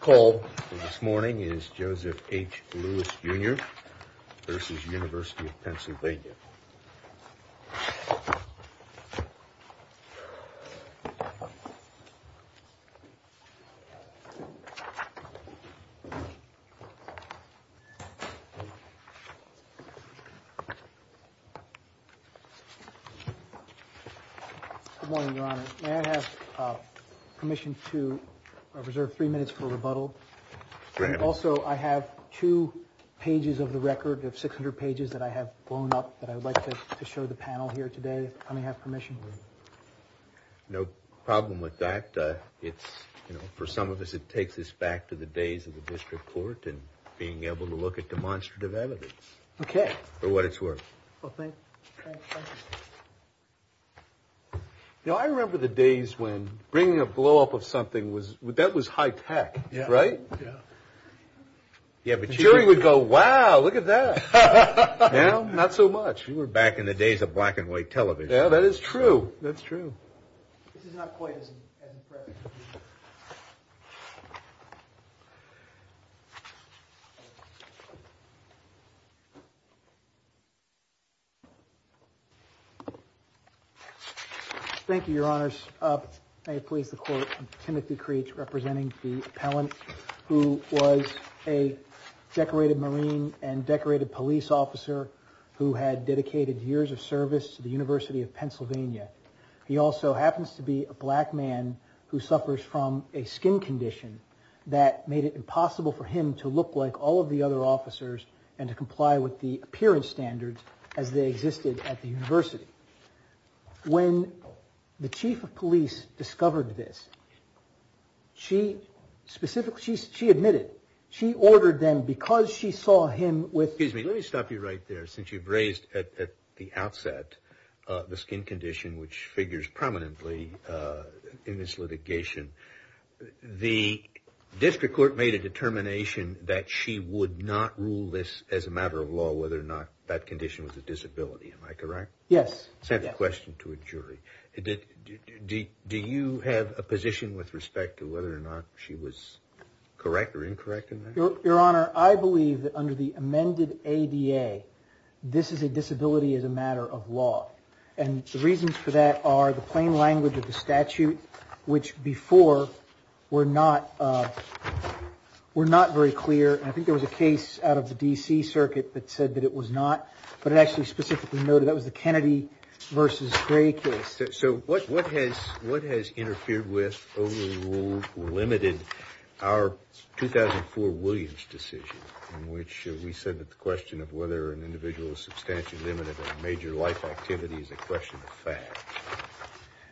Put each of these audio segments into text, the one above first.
Called this morning is Joseph H. Lewis Jr. v. Univ. of PA Good morning, Your Honor. May I have permission to reserve three minutes for rebuttal? Also, I have two pages of the record of 600 pages that I have blown up that I would like to show the panel here today. Let me have permission. No problem with that. It's you know, for some of us, it takes us back to the days of the district court and being able to look at demonstrative evidence. OK. For what it's worth. Now, I remember the days when bringing a blow up of something was that was high tech. Yeah. Right. Yeah. But you would go, wow, look at that. Not so much. You were back in the days of black and white television. That is true. That's true. Thank you, Your Honors. May it please the court. Timothy Creech representing the appellant who was a decorated Marine and decorated police officer who had dedicated years of service to the University of Pennsylvania. He also happens to be a black man who suffers from a skin condition that made it impossible for him to look like all of the other officers and to comply with the appearance standards as they existed at the university. When the chief of police discovered this, she specifically she admitted she ordered them because she saw him with. Excuse me. Let me stop you right there. Since you've raised at the outset the skin condition, which figures prominently in this litigation. The district court made a determination that she would not rule this as a matter of law, whether or not that condition was a disability. Am I correct? Yes. Send the question to a jury. Do you have a position with respect to whether or not she was correct or incorrect? Your Honor, I believe that under the amended ADA, this is a disability as a matter of law. And the reasons for that are the plain language of the statute, which before were not were not very clear. And I think there was a case out of the D.C. circuit that said that it was not. But it actually specifically noted that was the Kennedy versus Gray case. So what what has what has interfered with or limited our 2004 Williams decision in which we said that the question of whether an individual substantially limited major life activity is a question of fact.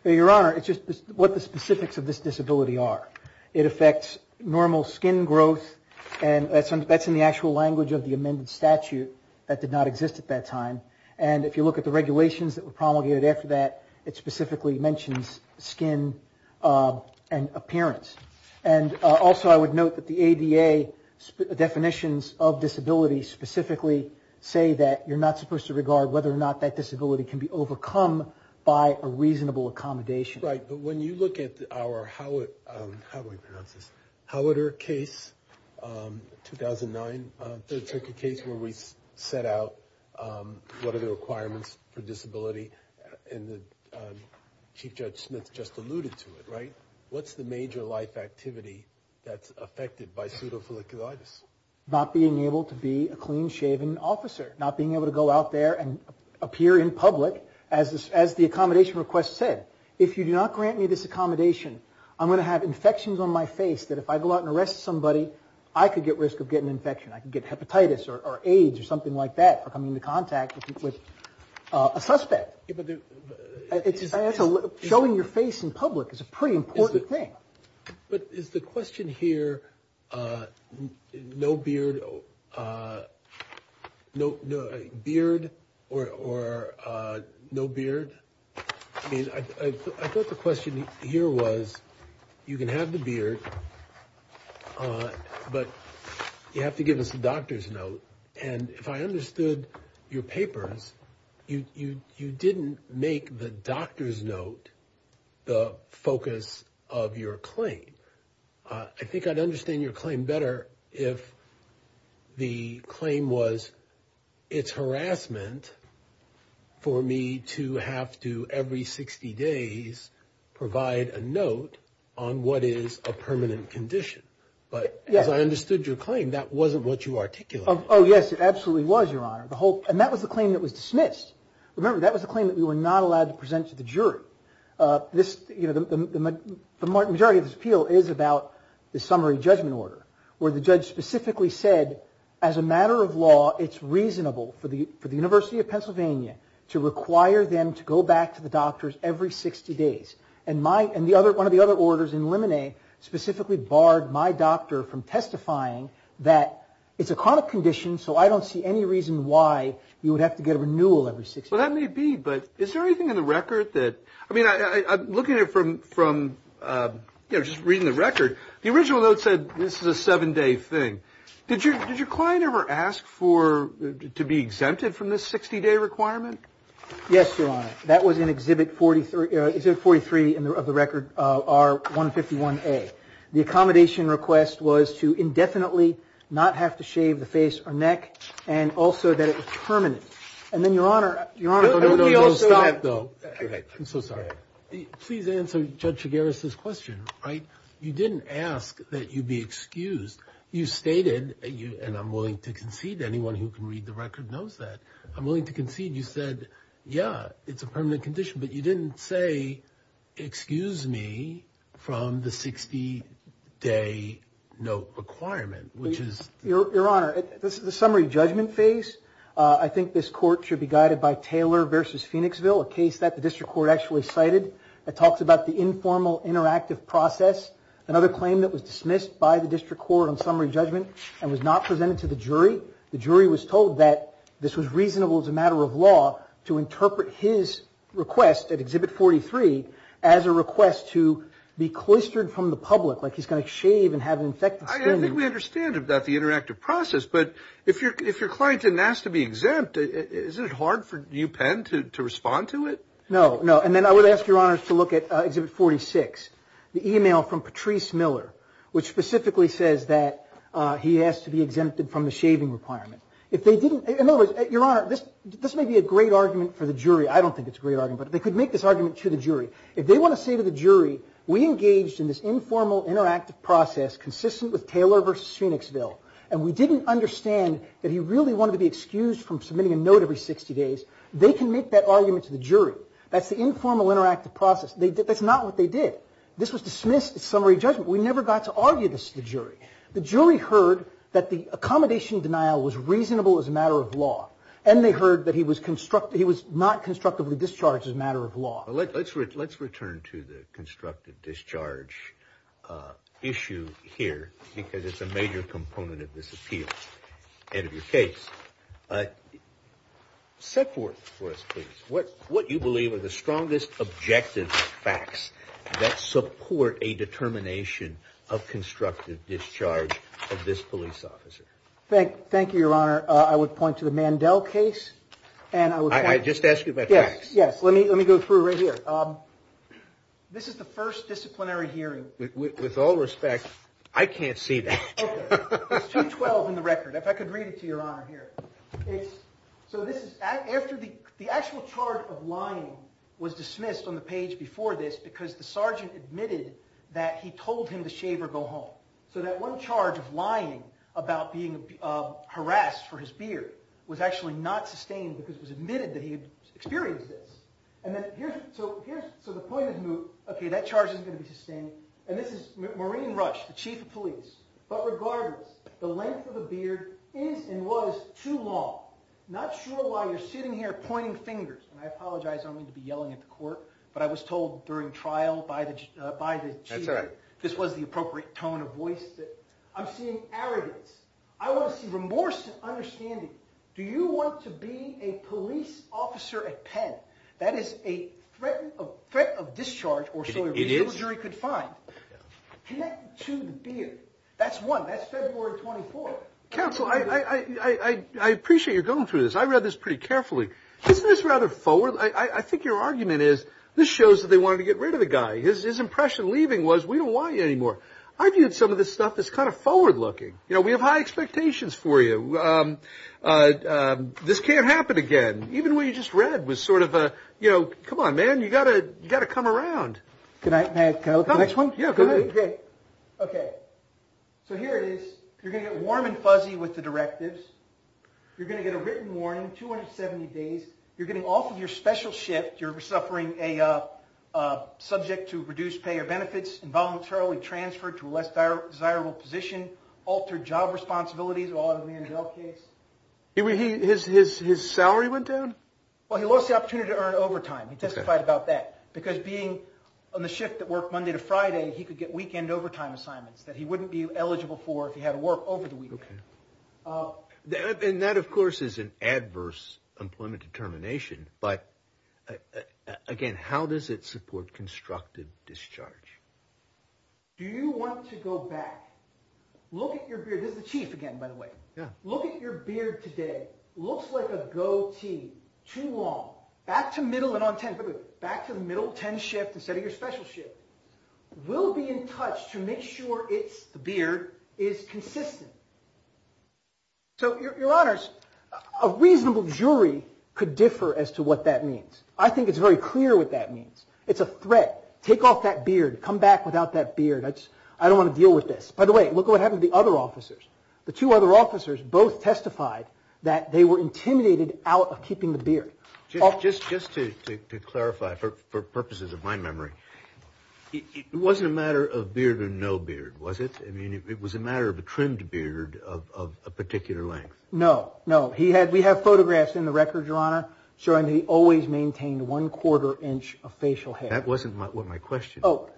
Your Honor, it's just what the specifics of this disability are. It affects normal skin growth. And that's that's in the actual language of the amended statute that did not exist at that time. And if you look at the regulations that were promulgated after that, it specifically mentions skin and appearance. And also, I would note that the ADA definitions of disability specifically say that you're not supposed to regard whether or not that disability can be overcome by a reasonable accommodation. Right. But when you look at our how it how it is, how it or case 2009 took a case where we set out what are the requirements for disability? And the chief judge Smith just alluded to it. Right. What's the major life activity that's affected by pseudophiliculitis? Not being able to be a clean shaven officer, not being able to go out there and appear in public. As as the accommodation request said, if you do not grant me this accommodation, I'm going to have infections on my face that if I go out and arrest somebody, I could get risk of getting infection. I can get hepatitis or AIDS or something like that for coming into contact with a suspect. It's a little showing your face in public is a pretty important thing. But is the question here no beard, no beard or no beard? I mean, I thought the question here was you can have the beard, but you have to give us a doctor's note. And if I understood your papers, you you you didn't make the doctor's note the focus of your claim. I think I'd understand your claim better if the claim was it's harassment for me to have to every 60 days provide a note on what is a permanent condition. But as I understood your claim, that wasn't what you articulate. Oh, yes, it absolutely was, Your Honor. The whole and that was the claim that was dismissed. Remember, that was a claim that we were not allowed to present to the jury. This, you know, the majority of this appeal is about the summary judgment order where the judge specifically said, as a matter of law, it's reasonable for the for the University of Pennsylvania to require them to go back to the doctors every 60 days. And my and the other one of the other orders in limine specifically barred my doctor from testifying that it's a chronic condition. So I don't see any reason why you would have to get a renewal every six. Well, that may be. But is there anything in the record that I mean, I'm looking at it from from, you know, just reading the record. The original note said this is a seven day thing. Did you did your client ever ask for to be exempted from this 60 day requirement? Yes, Your Honor. That was in Exhibit 43. Exhibit 43 of the record are 151A. The accommodation request was to indefinitely not have to shave the face or neck and also that it was permanent. And then, Your Honor. Your Honor. No, no, no. Stop, though. I'm so sorry. Please answer Judge Chigueras' question. Right. You didn't ask that you be excused. You stated you and I'm willing to concede anyone who can read the record knows that I'm willing to concede. You said, yeah, it's a permanent condition. But you didn't say, excuse me, from the 60 day note requirement, which is. Your Honor, this is the summary judgment phase. I think this court should be guided by Taylor versus Phoenixville, a case that the district court actually cited. It talks about the informal interactive process. Another claim that was dismissed by the district court on summary judgment and was not presented to the jury. The jury was told that this was reasonable as a matter of law to interpret his request at Exhibit 43 as a request to be cloistered from the public, like he's going to shave and have an infected skin. I think we understand that the interactive process. But if you're if your client didn't ask to be exempt, is it hard for you, Penn, to respond to it? No, no. And then I would ask your honors to look at Exhibit 46, the email from Patrice Miller, which specifically says that he has to be exempted from the shaving requirement. If they didn't. Your Honor, this may be a great argument for the jury. I don't think it's a great argument, but they could make this argument to the jury. If they want to say to the jury, we engaged in this informal interactive process consistent with Taylor versus Phoenixville, and we didn't understand that he really wanted to be excused from submitting a note every 60 days. They can make that argument to the jury. That's the informal interactive process. They did. That's not what they did. This was dismissed. It's summary judgment. We never got to argue this to the jury. The jury heard that the accommodation denial was reasonable as a matter of law. And they heard that he was constructed. He was not constructively discharged as a matter of law. Let's let's let's return to the constructive discharge issue here, because it's a major component of this appeal. End of your case. Set forth for us, please. What what you believe are the strongest objective facts that support a determination of constructive discharge of this police officer? Thank thank you, Your Honor. I would point to the Mandel case and I would just ask you about. Yes. Yes. Let me let me go through right here. This is the first disciplinary hearing with all respect. I can't see that. It's 212 in the record. If I could read it to your honor here. So this is after the actual charge of lying was dismissed on the page before this because the sergeant admitted that he told him to shave or go home. So that one charge of lying about being harassed for his beard was actually not sustained because it was admitted that he experienced this. And then here's so here's so the point is, OK, that charge is going to be sustained. And this is Maureen Rush, the chief of police. But regardless, the length of the beard is and was too long. Not sure why you're sitting here pointing fingers. And I apologize. I'm going to be yelling at the court. But I was told during trial by the by the judge that this was the appropriate tone of voice that I'm seeing arrogance. I want to see remorse and understanding. Do you want to be a police officer at Penn? That is a threat of threat of discharge or so a jury could find to be. That's one. That's February 24. Counsel, I appreciate you're going through this. I read this pretty carefully. This is rather forward. I think your argument is this shows that they wanted to get rid of the guy. His impression leaving was we don't want you anymore. I viewed some of this stuff is kind of forward looking. You know, we have high expectations for you. This can't happen again. Even when you just read was sort of a, you know, come on, man, you got to you got to come around. Can I look at the next one? Yeah, go ahead. OK, so here it is. You're going to get warm and fuzzy with the directives. You're going to get a written warning. Two hundred seventy days. You're getting off of your special shift. You're suffering a subject to reduce pay or benefits involuntarily transferred to a less desirable position. Altered job responsibilities are all in the case. He his his his salary went down. Well, he lost the opportunity to earn overtime. He testified about that because being on the shift that worked Monday to Friday, he could get weekend overtime assignments that he wouldn't be eligible for if he had to work over the weekend. And that, of course, is an adverse employment determination. But again, how does it support constructive discharge? Do you want to go back? Look at your beard. This is the chief again, by the way. Yeah. Look at your beard today. Looks like a goatee too long. Back to middle and on 10 back to the middle 10 shift instead of your special shift. We'll be in touch to make sure it's the beard is consistent. So your honors, a reasonable jury could differ as to what that means. I think it's very clear what that means. It's a threat. Take off that beard. Come back without that beard. I don't want to deal with this. By the way, look what happened to the other officers. The two other officers both testified that they were intimidated out of keeping the beard. Just just just to clarify, for purposes of my memory, it wasn't a matter of beard or no beard, was it? I mean, it was a matter of a trimmed beard of a particular length. No, no. He had we have photographs in the record, your honor, showing he always maintained one quarter inch of facial hair. That wasn't what my question. Oh,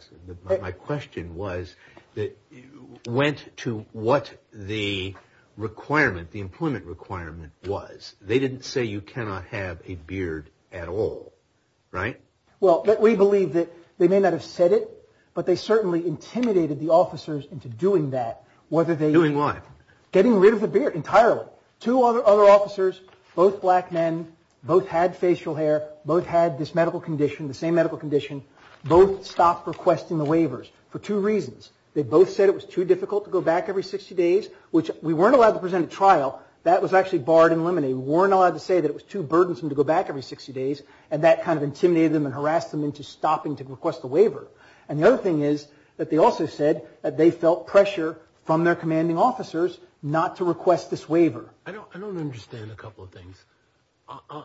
my question was that you went to what the requirement, the employment requirement was. They didn't say you cannot have a beard at all. Right. Well, we believe that they may not have said it, but they certainly intimidated the officers into doing that. Getting rid of the beard entirely. Two other officers, both black men, both had facial hair, both had this medical condition, the same medical condition, both stopped requesting the waivers for two reasons. They both said it was too difficult to go back every 60 days, which we weren't allowed to present a trial. That was actually barred and eliminated. Weren't allowed to say that it was too burdensome to go back every 60 days. And that kind of intimidated them and harassed them into stopping to request the waiver. And the other thing is that they also said that they felt pressure from their commanding officers not to request this waiver. I don't I don't understand a couple of things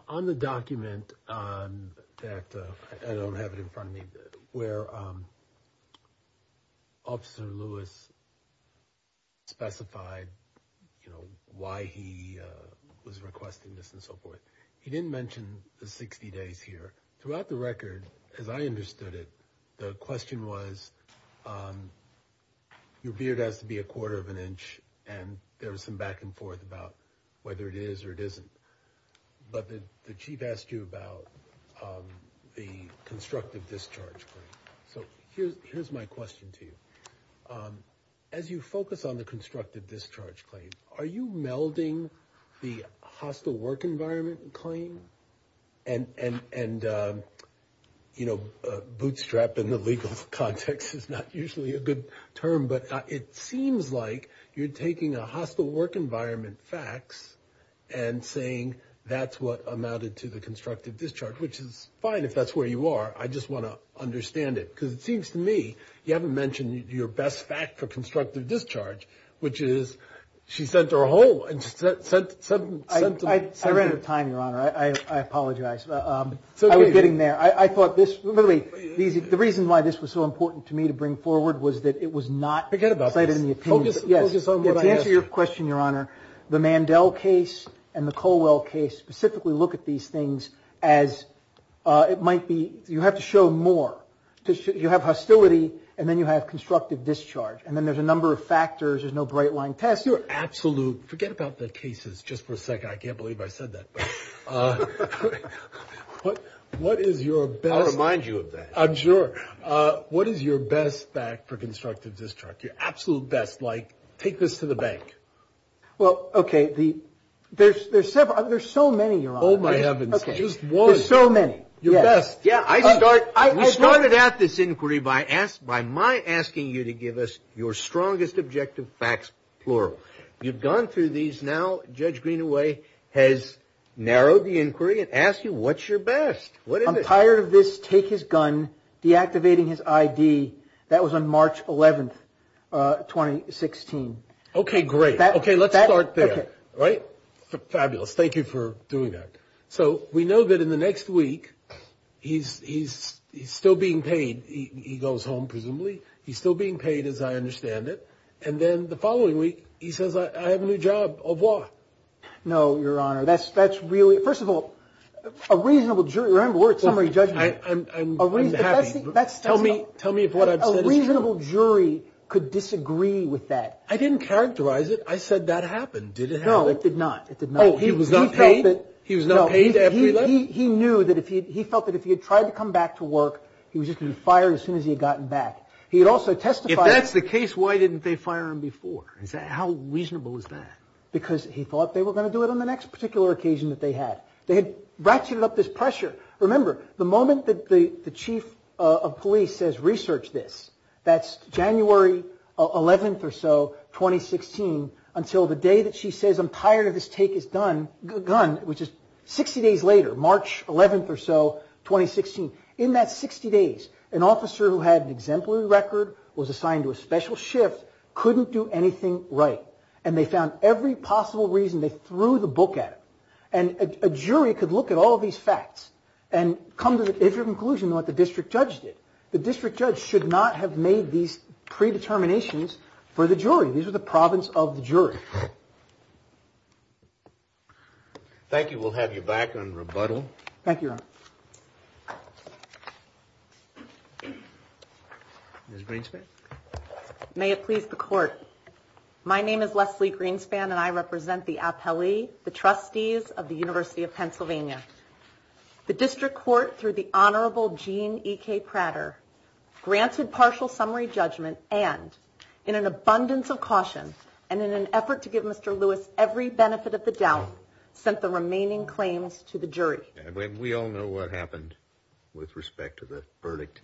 on the document that I don't have it in front of me where. Officer Lewis. Specified why he was requesting this and so forth. He didn't mention the 60 days here throughout the record, as I understood it. The question was your beard has to be a quarter of an inch. And there was some back and forth about whether it is or it isn't. But the chief asked you about the constructive discharge. So here's here's my question to you. As you focus on the constructive discharge claim, are you melding the hostile work environment claim? And and and, you know, bootstrap in the legal context is not usually a good term, but it seems like you're taking a hostile work environment facts and saying that's what amounted to the constructive discharge, which is fine if that's where you are. I just want to understand it because it seems to me you haven't mentioned your best fact for constructive discharge, which is she sent her home and said I read it a time. Your Honor, I apologize. I was getting there. I thought this really easy. The reason why this was so important to me to bring forward was that it was not forget about it in the opinion. Yes. To answer your question, Your Honor. The Mandel case and the Colwell case specifically look at these things as it might be. You have to show more. You have hostility and then you have constructive discharge. And then there's a number of factors. There's no bright line test. You're absolute. Forget about the cases. Just for a second. I can't believe I said that. But what is your best? I'll remind you of that. I'm sure. What is your best fact for constructive discharge? Your absolute best. Like take this to the bank. Well, OK, the there's there's several. There's so many. Oh, my heavens. Just one. So many. Your best. Yeah, I start. I started at this inquiry by asked by my asking you to give us your strongest objective facts. Or you've gone through these now. Judge Greenaway has narrowed the inquiry and asked you what's your best. What I'm tired of this. Take his gun. Deactivating his I.D. That was on March 11th, 2016. OK, great. OK, let's start there. Right. Fabulous. Thank you for doing that. So we know that in the next week he's he's he's still being paid. He goes home. Presumably he's still being paid, as I understand it. And then the following week, he says, I have a new job of law. No, your honor. That's that's really. First of all, a reasonable jury. Remember, we're at summary judgment. I'm a really happy. That's tell me. Tell me if what a reasonable jury could disagree with that. I didn't characterize it. I said that happened. Did it? No, it did not. It did not. He was not paid. He was not paid. He knew that if he felt that if he had tried to come back to work, he was just going to fire as soon as he had gotten back. He had also testified. That's the case. Why didn't they fire him before? How reasonable is that? Because he thought they were going to do it on the next particular occasion that they had. They had ratcheted up this pressure. Remember the moment that the chief of police says research this. That's January 11th or so, 2016, until the day that she says I'm tired of this take is done. Gun, which is 60 days later, March 11th or so, 2016. In that 60 days, an officer who had an exemplary record was assigned to a special shift, couldn't do anything right. And they found every possible reason they threw the book at him. And a jury could look at all of these facts and come to the conclusion what the district judge did. The district judge should not have made these predeterminations for the jury. These are the province of the jury. Thank you. We'll have you back on rebuttal. Thank you. Green's may it please the court. My name is Leslie Greenspan and I represent the appellee, the trustees of the University of Pennsylvania. The district court, through the Honorable Gene Prater, granted partial summary judgment. And in an abundance of caution and in an effort to give Mr. Lewis every benefit of the doubt, sent the remaining claims to the jury. And we all know what happened with respect to the verdict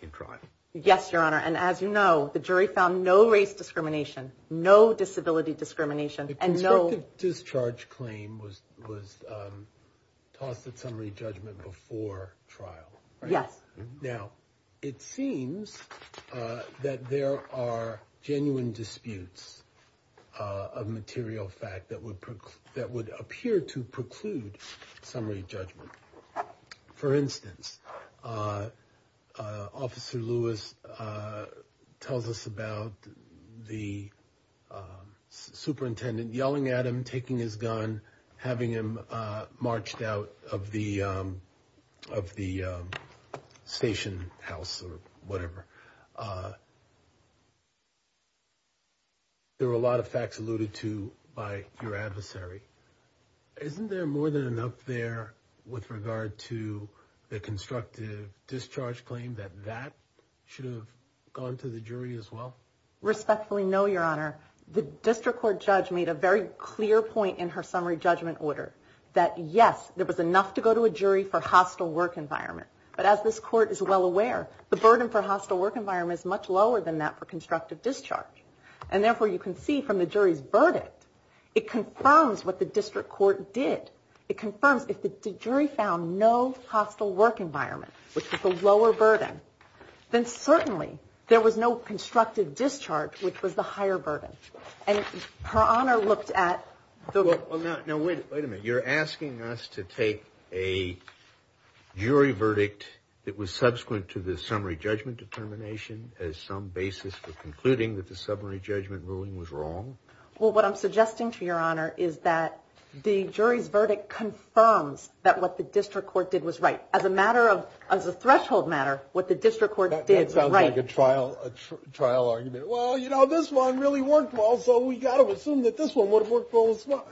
in trial. Yes, Your Honor. And as you know, the jury found no race discrimination, no disability discrimination. Discharge claim was was tossed at summary judgment before trial. Yes. Now, it seems that there are genuine disputes of material fact that would that would appear to preclude summary judgment. For instance, Officer Lewis tells us about the superintendent yelling at him, taking his gun, having him marched out of the of the station house or whatever. There were a lot of facts alluded to by your adversary. Isn't there more than enough there with regard to the constructive discharge claim that that should have gone to the jury as well? Respectfully, no, Your Honor. The district court judge made a very clear point in her summary judgment order that, yes, there was enough to go to a jury for hostile work environment. But as this court is well aware, the burden for hostile work environment is much lower than that for constructive discharge. And therefore, you can see from the jury's verdict, it confirms what the district court did. It confirms if the jury found no hostile work environment, which is the lower burden, then certainly there was no constructive discharge, which was the higher burden. And her honor looked at the. Now, wait a minute. You're asking us to take a jury verdict that was subsequent to the summary judgment determination as some basis for concluding that the summary judgment ruling was wrong. Well, what I'm suggesting to your honor is that the jury's verdict confirms that what the district court did was right as a matter of as a threshold matter. It sounds like a trial, a trial argument. Well, you know, this one really worked well, so we got to assume that this one would have worked well as well.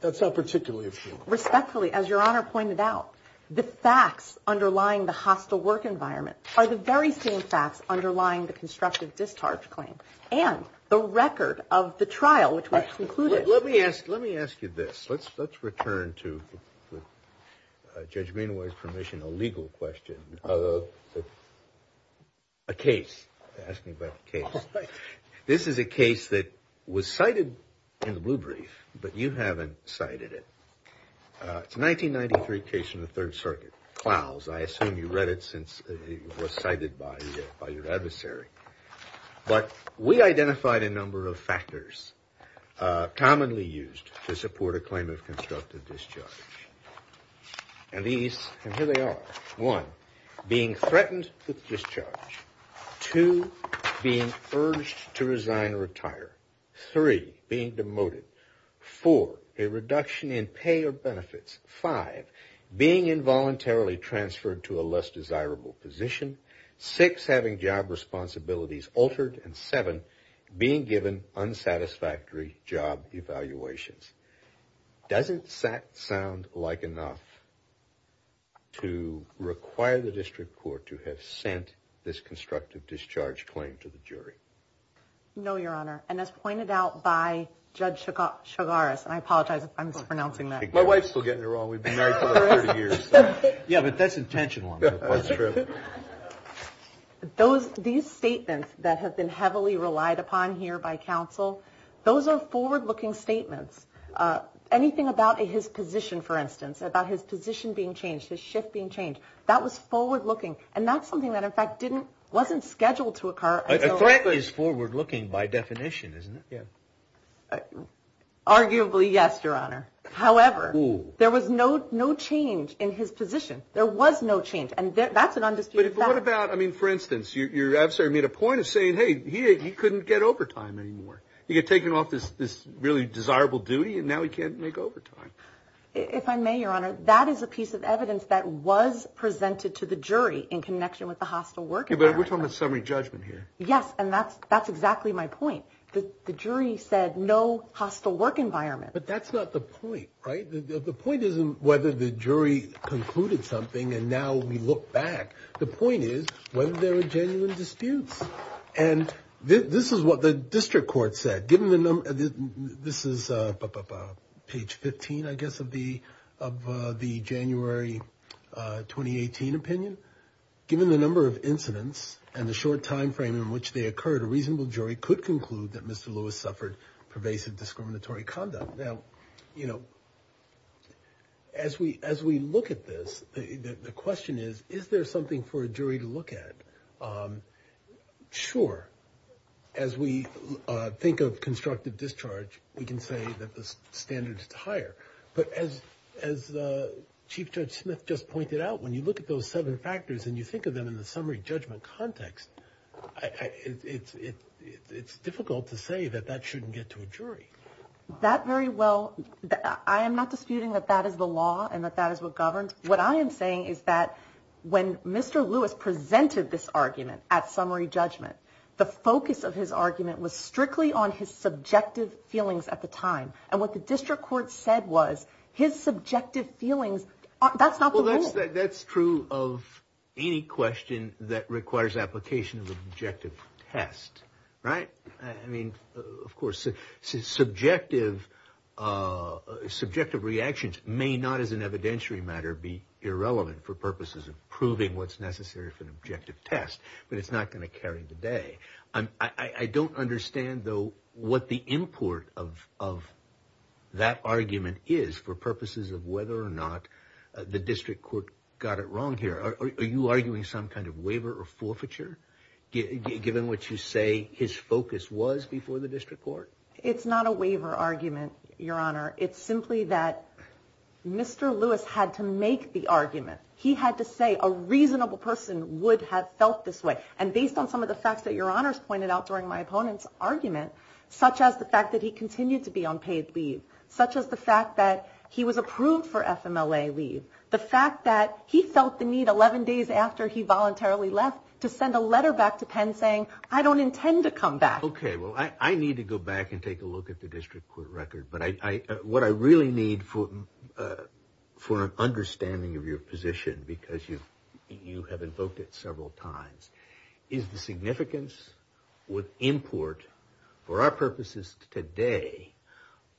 That's a particular issue. Respectfully, as your honor pointed out, the facts underlying the hostile work environment are the very same facts underlying the constructive discharge claim and the record of the trial, which was concluded. Let me ask. Let me ask you this. Let's let's return to Judge Greenway's permission, a legal question of a case. Ask me about the case. This is a case that was cited in the blue brief, but you haven't cited it. It's a 1993 case in the Third Circuit. Klaus, I assume you read it since it was cited by your adversary. But we identified a number of factors commonly used to support a claim of constructive discharge. And these, and here they are. One, being threatened with discharge. Two, being urged to resign or retire. Three, being demoted. Four, a reduction in pay or benefits. Five, being involuntarily transferred to a less desirable position. Six, having job responsibilities altered. And seven, being given unsatisfactory job evaluations. Doesn't that sound like enough to require the district court to have sent this constructive discharge claim to the jury? No, Your Honor. And as pointed out by Judge Chigaris, and I apologize if I'm mispronouncing that. My wife's still getting it wrong. We've been married for 30 years. Yeah, but that's intentional. Those these statements that have been heavily relied upon here by counsel, those are forward looking statements. Anything about his position, for instance, about his position being changed, his shift being changed. That was forward looking. And that's something that, in fact, wasn't scheduled to occur. I think it is forward looking by definition, isn't it? Arguably, yes, Your Honor. However, there was no change in his position. There was no change. And that's an undisputed fact. But what about, I mean, for instance, your adversary made a point of saying, hey, he couldn't get overtime anymore. He had taken off this really desirable duty and now he can't make overtime. If I may, Your Honor, that is a piece of evidence that was presented to the jury in connection with the hostile work. But we're talking about summary judgment here. Yes. And that's that's exactly my point. The jury said no hostile work environment. But that's not the point. Right. The point isn't whether the jury concluded something. And now we look back. The point is whether there are genuine disputes. And this is what the district court said, given the number. This is page 15, I guess, of the of the January 2018 opinion. Given the number of incidents and the short time frame in which they occurred, a reasonable jury could conclude that Mr. Lewis suffered pervasive discriminatory conduct. Now, you know, as we as we look at this, the question is, is there something for a jury to look at? Sure. As we think of constructive discharge, we can say that the standard is higher. But as as Chief Judge Smith just pointed out, when you look at those seven factors and you think of them in the summary judgment context, it's it's difficult to say that that shouldn't get to a jury that very well. I am not disputing that that is the law and that that is what governed. What I am saying is that when Mr. Lewis presented this argument at summary judgment, the focus of his argument was strictly on his subjective feelings at the time. And what the district court said was his subjective feelings. That's not that's true of any question that requires application of objective test. Right. I mean, of course, subjective subjective reactions may not, as an evidentiary matter, be irrelevant for purposes of proving what's necessary for an objective test. But it's not going to carry the day. I don't understand, though, what the import of of that argument is for purposes of whether or not the district court got it wrong here. Are you arguing some kind of waiver or forfeiture given what you say his focus was before the district court? It's not a waiver argument, your honor. It's simply that Mr. Lewis had to make the argument. He had to say a reasonable person would have felt this way. And based on some of the facts that your honors pointed out during my opponent's argument, such as the fact that he continued to be on paid leave, such as the fact that he was approved for FMLA leave, the fact that he felt the need 11 days after he voluntarily left to send a letter back to Penn saying, I don't intend to come back. OK, well, I need to go back and take a look at the district court record. But I what I really need for for an understanding of your position, because you you have invoked it several times, is the significance with import for our purposes today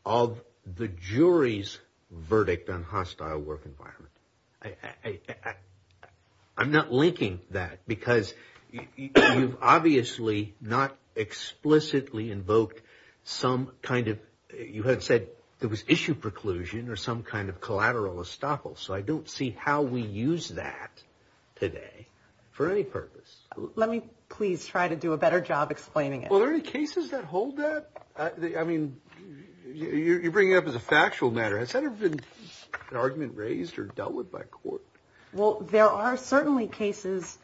of the jury's verdict on hostile work environment. I'm not linking that because you've obviously not explicitly invoked some kind of you had said there was issue preclusion or some kind of collateral estoppel. So I don't see how we use that today for any purpose. Let me please try to do a better job explaining it. Well, there are cases that hold that. I mean, you bring it up as a factual matter. Has that ever been an argument raised or dealt with by court? Well, there are certainly cases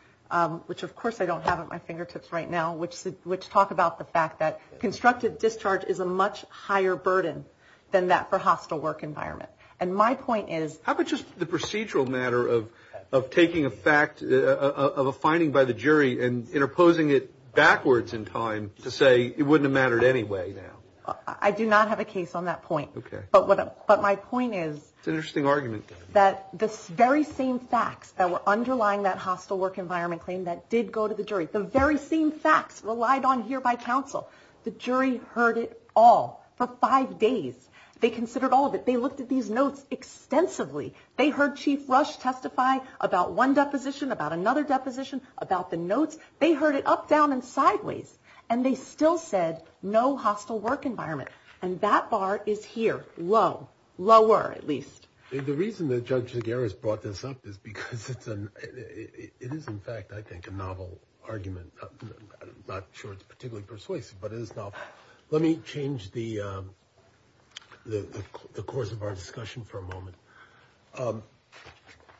which, of course, I don't have at my fingertips right now, which which talk about the fact that constructive discharge is a much higher burden than that for hostile work environment. And my point is, how about just the procedural matter of of taking a fact of a finding by the jury and interposing it backwards in time to say it wouldn't have mattered anyway? Now, I do not have a case on that point. OK, but what? But my point is, it's an interesting argument that this very same facts that were underlying that hostile work environment claim that did go to the jury. The very same facts relied on here by counsel. The jury heard it all for five days. They considered all of it. They looked at these notes extensively. They heard Chief Rush testify about one deposition, about another deposition, about the notes. They heard it up, down and sideways. And they still said no hostile work environment. And that bar is here. Low, lower, at least. The reason that Judge Zagara has brought this up is because it's an it is, in fact, I think, a novel argument. Not sure it's particularly persuasive, but it is not. Let me change the the course of our discussion for a moment.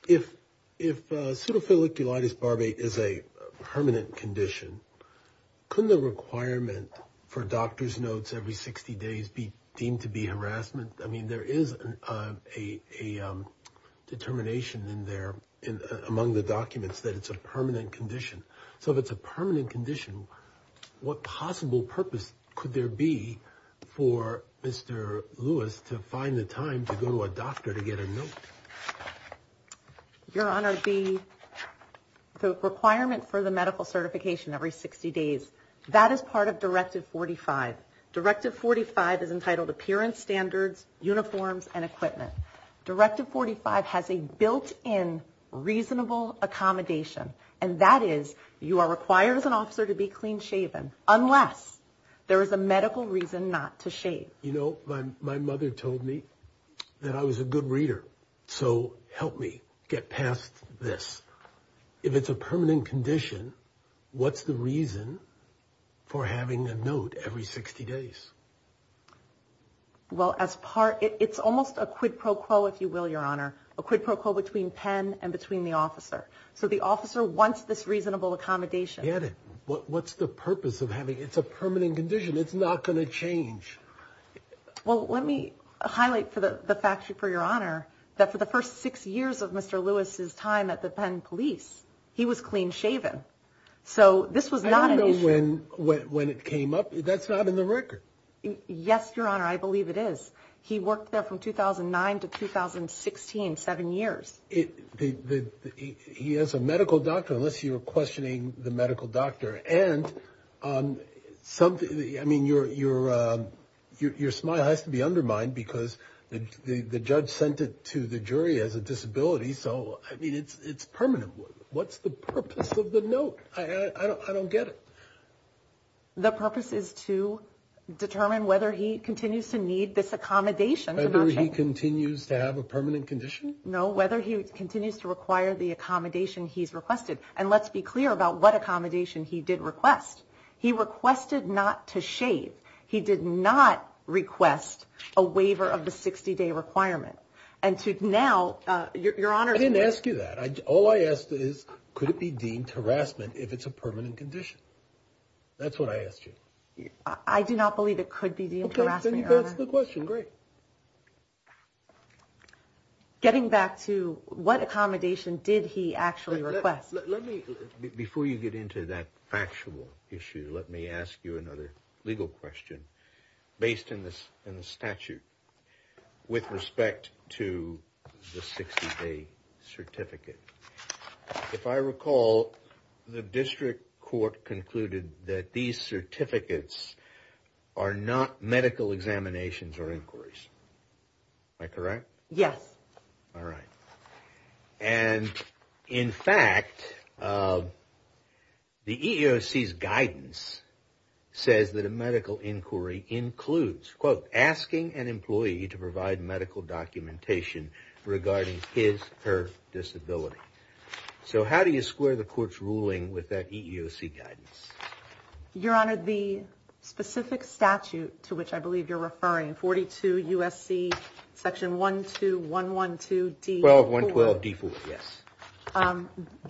If if a pseudophilic delirious Barbie is a permanent condition, couldn't the requirement for doctor's notes every 60 days be deemed to be harassment? I mean, there is a determination in there in among the documents that it's a permanent condition. So if it's a permanent condition, what possible purpose could there be for Mr. Lewis to find the time to go to a doctor to get a note? Your Honor, the requirement for the medical certification every 60 days, that is part of Directive 45. Directive 45 is entitled Appearance Standards, Uniforms and Equipment. Directive 45 has a built in reasonable accommodation. And that is you are required as an officer to be clean shaven unless there is a medical reason not to shave. You know, my mother told me that I was a good reader. So help me get past this. If it's a permanent condition, what's the reason for having a note every 60 days? Well, as part it's almost a quid pro quo, if you will, Your Honor, a quid pro quo between Penn and between the officer. So the officer wants this reasonable accommodation. What's the purpose of having it's a permanent condition. It's not going to change. Well, let me highlight for the factory, for Your Honor, that for the first six years of Mr. Lewis's time at the Penn police, he was clean shaven. So this was not an issue. I don't know when it came up. That's not in the record. Yes, Your Honor, I believe it is. He worked there from 2009 to 2016, seven years. He has a medical doctor, unless you're questioning the medical doctor. And I mean, your smile has to be undermined because the judge sent it to the jury as a disability. So I mean, it's it's permanent. What's the purpose of the note? I don't get it. The purpose is to determine whether he continues to need this accommodation. Whether he continues to have a permanent condition. No, whether he continues to require the accommodation he's requested. And let's be clear about what accommodation he did request. He requested not to shave. He did not request a waiver of the 60 day requirement. And to now, Your Honor, I didn't ask you that. All I asked is, could it be deemed harassment if it's a permanent condition? That's what I asked you. I do not believe it could be. That's the question. Great. Getting back to what accommodation did he actually request? Let me before you get into that factual issue. Let me ask you another legal question based on this and the statute with respect to the 60 day certificate. If I recall, the district court concluded that these certificates are not medical examinations or inquiries. Am I correct? Yes. All right. And in fact, the EEOC's guidance says that a medical inquiry includes, quote, asking an employee to provide medical documentation regarding his or her disability. So how do you square the court's ruling with that EEOC guidance? Your Honor, the specific statute to which I believe you're referring, 42 U.S.C. section one, two, one, one, two. Well, one, twelve. Yes.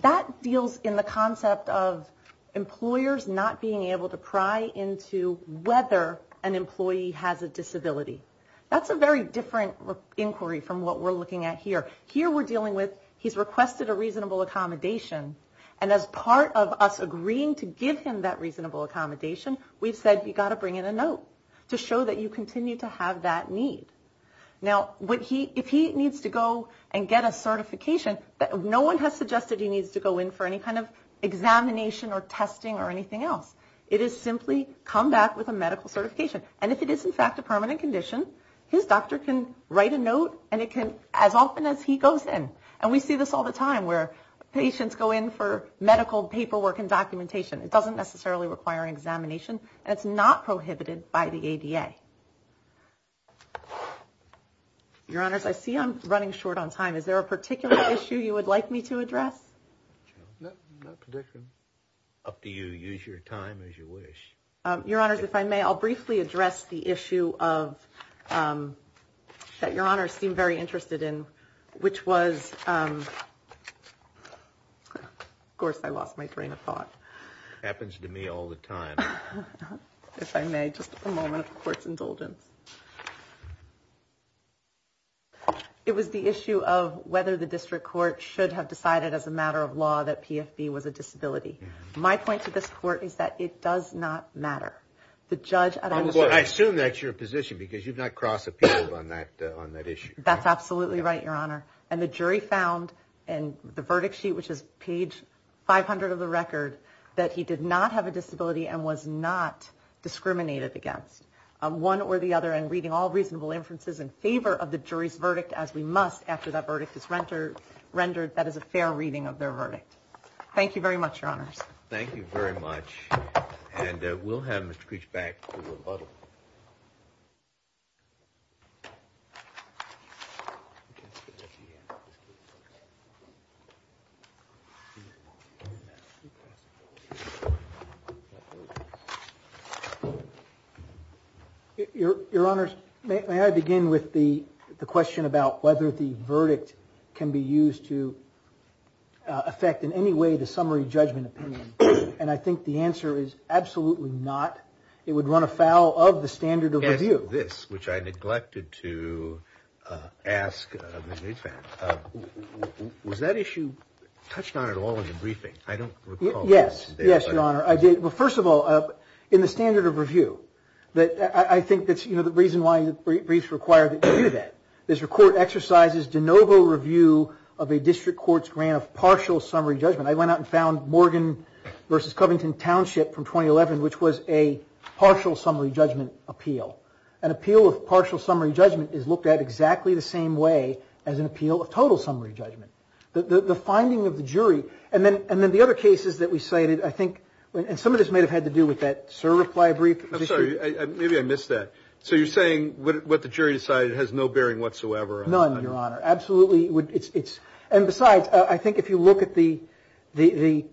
That deals in the concept of employers not being able to pry into whether an employee has a disability. That's a very different inquiry from what we're looking at here. Here we're dealing with he's requested a reasonable accommodation. And as part of us agreeing to give him that reasonable accommodation, we've said we've got to bring in a note to show that you continue to have that need. Now, what he if he needs to go and get a certification, no one has suggested he needs to go in for any kind of examination or testing or anything else. It is simply come back with a medical certification. And if it is, in fact, a permanent condition, his doctor can write a note and it can as often as he goes in. And we see this all the time where patients go in for medical paperwork and documentation. It doesn't necessarily require an examination. It's not prohibited by the ADA. Your Honors, I see I'm running short on time. Is there a particular issue you would like me to address? Up to you. Use your time as you wish. Your Honors, if I may, I'll briefly address the issue of that your honors seem very interested in, which was. Of course, I lost my train of thought. Happens to me all the time. If I may, just a moment, of course, indulgence. It was the issue of whether the district court should have decided as a matter of law that PFP was a disability. My point to this court is that it does not matter the judge. I assume that's your position because you've not crossed the people on that on that issue. That's absolutely right, Your Honor. And the jury found in the verdict sheet, which is page five hundred of the record, that he did not have a disability and was not discriminated against one or the other. And reading all reasonable inferences in favor of the jury's verdict, as we must after that verdict is renter rendered, that is a fair reading of their verdict. Thank you very much, Your Honors. Thank you very much. And we'll have Mr. Creech back to rebuttal. Your Honor, may I begin with the question about whether the verdict can be used to affect in any way the summary judgment. And I think the answer is absolutely not. It would run afoul of the standard of this, which I neglected to ask. Was that issue touched on at all in the briefing? I don't recall. Yes. Yes, Your Honor. I did. Well, first of all, in the standard of review that I think that's the reason why briefs require that you do that. This record exercises de novo review of a district court's grant of partial summary judgment. I went out and found Morgan v. Covington Township from 2011, which was a partial summary judgment appeal. An appeal of partial summary judgment is looked at exactly the same way as an appeal of total summary judgment. The finding of the jury and then the other cases that we cited, I think, and some of this may have had to do with that sir reply brief. I'm sorry. Maybe I missed that. So you're saying what the jury decided has no bearing whatsoever. None, Your Honor. Absolutely. And besides, I think if you look at the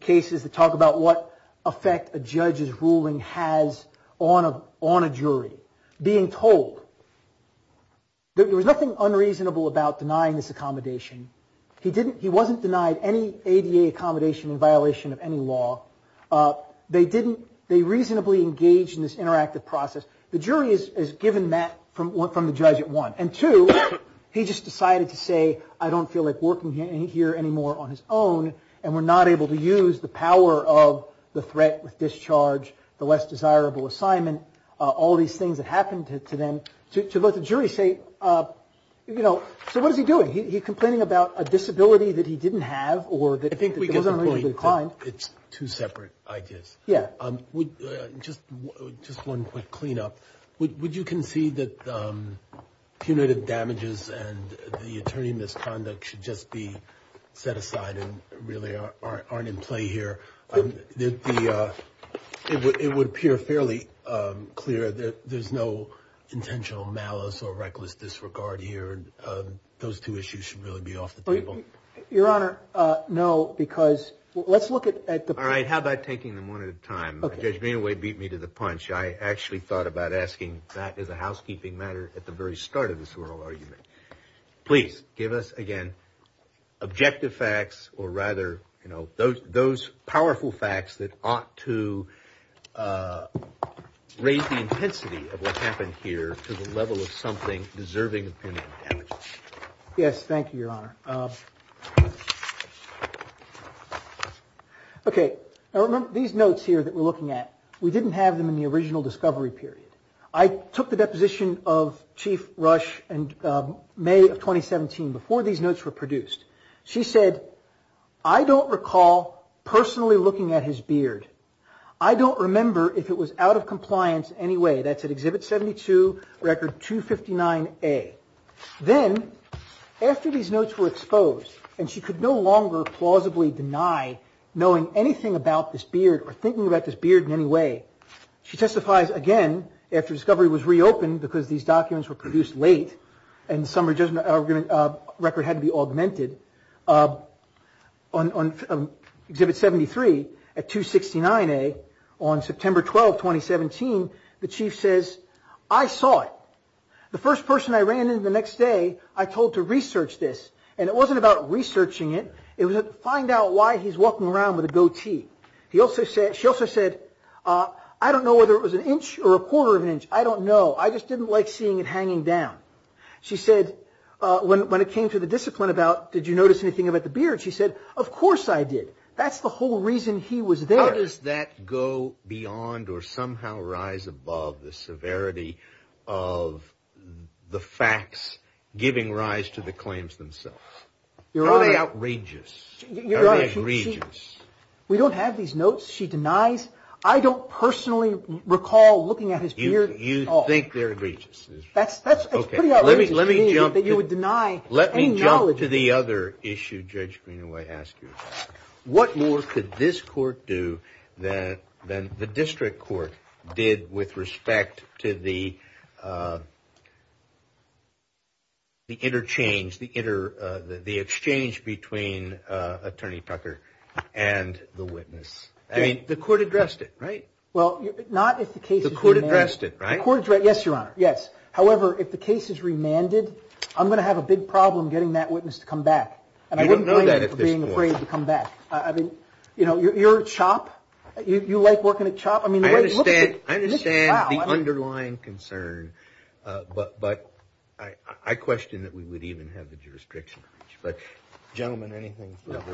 cases that talk about what effect a judge's ruling has on a jury, being told that there was nothing unreasonable about denying this accommodation. He wasn't denied any ADA accommodation in violation of any law. They reasonably engaged in this interactive process. The jury is given that from the judge at one. And two, he just decided to say, I don't feel like working here anymore on his own. And we're not able to use the power of the threat with discharge, the less desirable assignment, all these things that happened to them to let the jury say, you know, so what is he doing? He complaining about a disability that he didn't have or that I think it's two separate ideas. Yeah. Just just one quick cleanup. Would you concede that punitive damages and the attorney misconduct should just be set aside and really aren't in play here? The it would appear fairly clear that there's no intentional malice or reckless disregard here. Those two issues should really be off the table. Your Honor. No, because let's look at the. All right. How about taking them one at a time? Okay. Anyway, beat me to the punch. I actually thought about asking that as a housekeeping matter. At the very start of this oral argument, please give us again objective facts or rather, you know, those those powerful facts that ought to raise the intensity of what happened here to the level of something deserving. Yes. Thank you, Your Honor. Okay. These notes here that we're looking at, we didn't have them in the original discovery period. I took the deposition of Chief Rush and May of 2017 before these notes were produced. She said, I don't recall personally looking at his beard. I don't remember if it was out of compliance anyway. That's at Exhibit 72, Record 259A. Then after these notes were exposed and she could no longer plausibly deny knowing anything about this beard or thinking about this beard in any way. She testifies again after discovery was reopened because these documents were produced late. Record had to be augmented. On Exhibit 73 at 269A on September 12, 2017, the Chief says, I saw it. The first person I ran into the next day, I told to research this. And it wasn't about researching it. It was to find out why he's walking around with a goatee. She also said, I don't know whether it was an inch or a quarter of an inch. I don't know. I just didn't like seeing it hanging down. She said, when it came to the discipline about, did you notice anything about the beard? She said, of course I did. That's the whole reason he was there. How does that go beyond or somehow rise above the severity of the facts giving rise to the claims themselves? Are they outrageous? Are they egregious? We don't have these notes. She denies. I don't personally recall looking at his beard at all. You think they're egregious? That's pretty outrageous. Let me jump to the other issue Judge Greenaway asked you. What more could this court do than the district court did with respect to the interchange, the exchange between Attorney Tucker and the witness? The court addressed it, right? Well, not if the case is remanded. The court addressed it, right? Yes, Your Honor. Yes. However, if the case is remanded, I'm going to have a big problem getting that witness to come back. And I wouldn't blame you for being afraid to come back. You're a chop. You like working at chop. I understand the underlying concern, but I question that we would even have the jurisdiction to reach. Gentlemen, anything?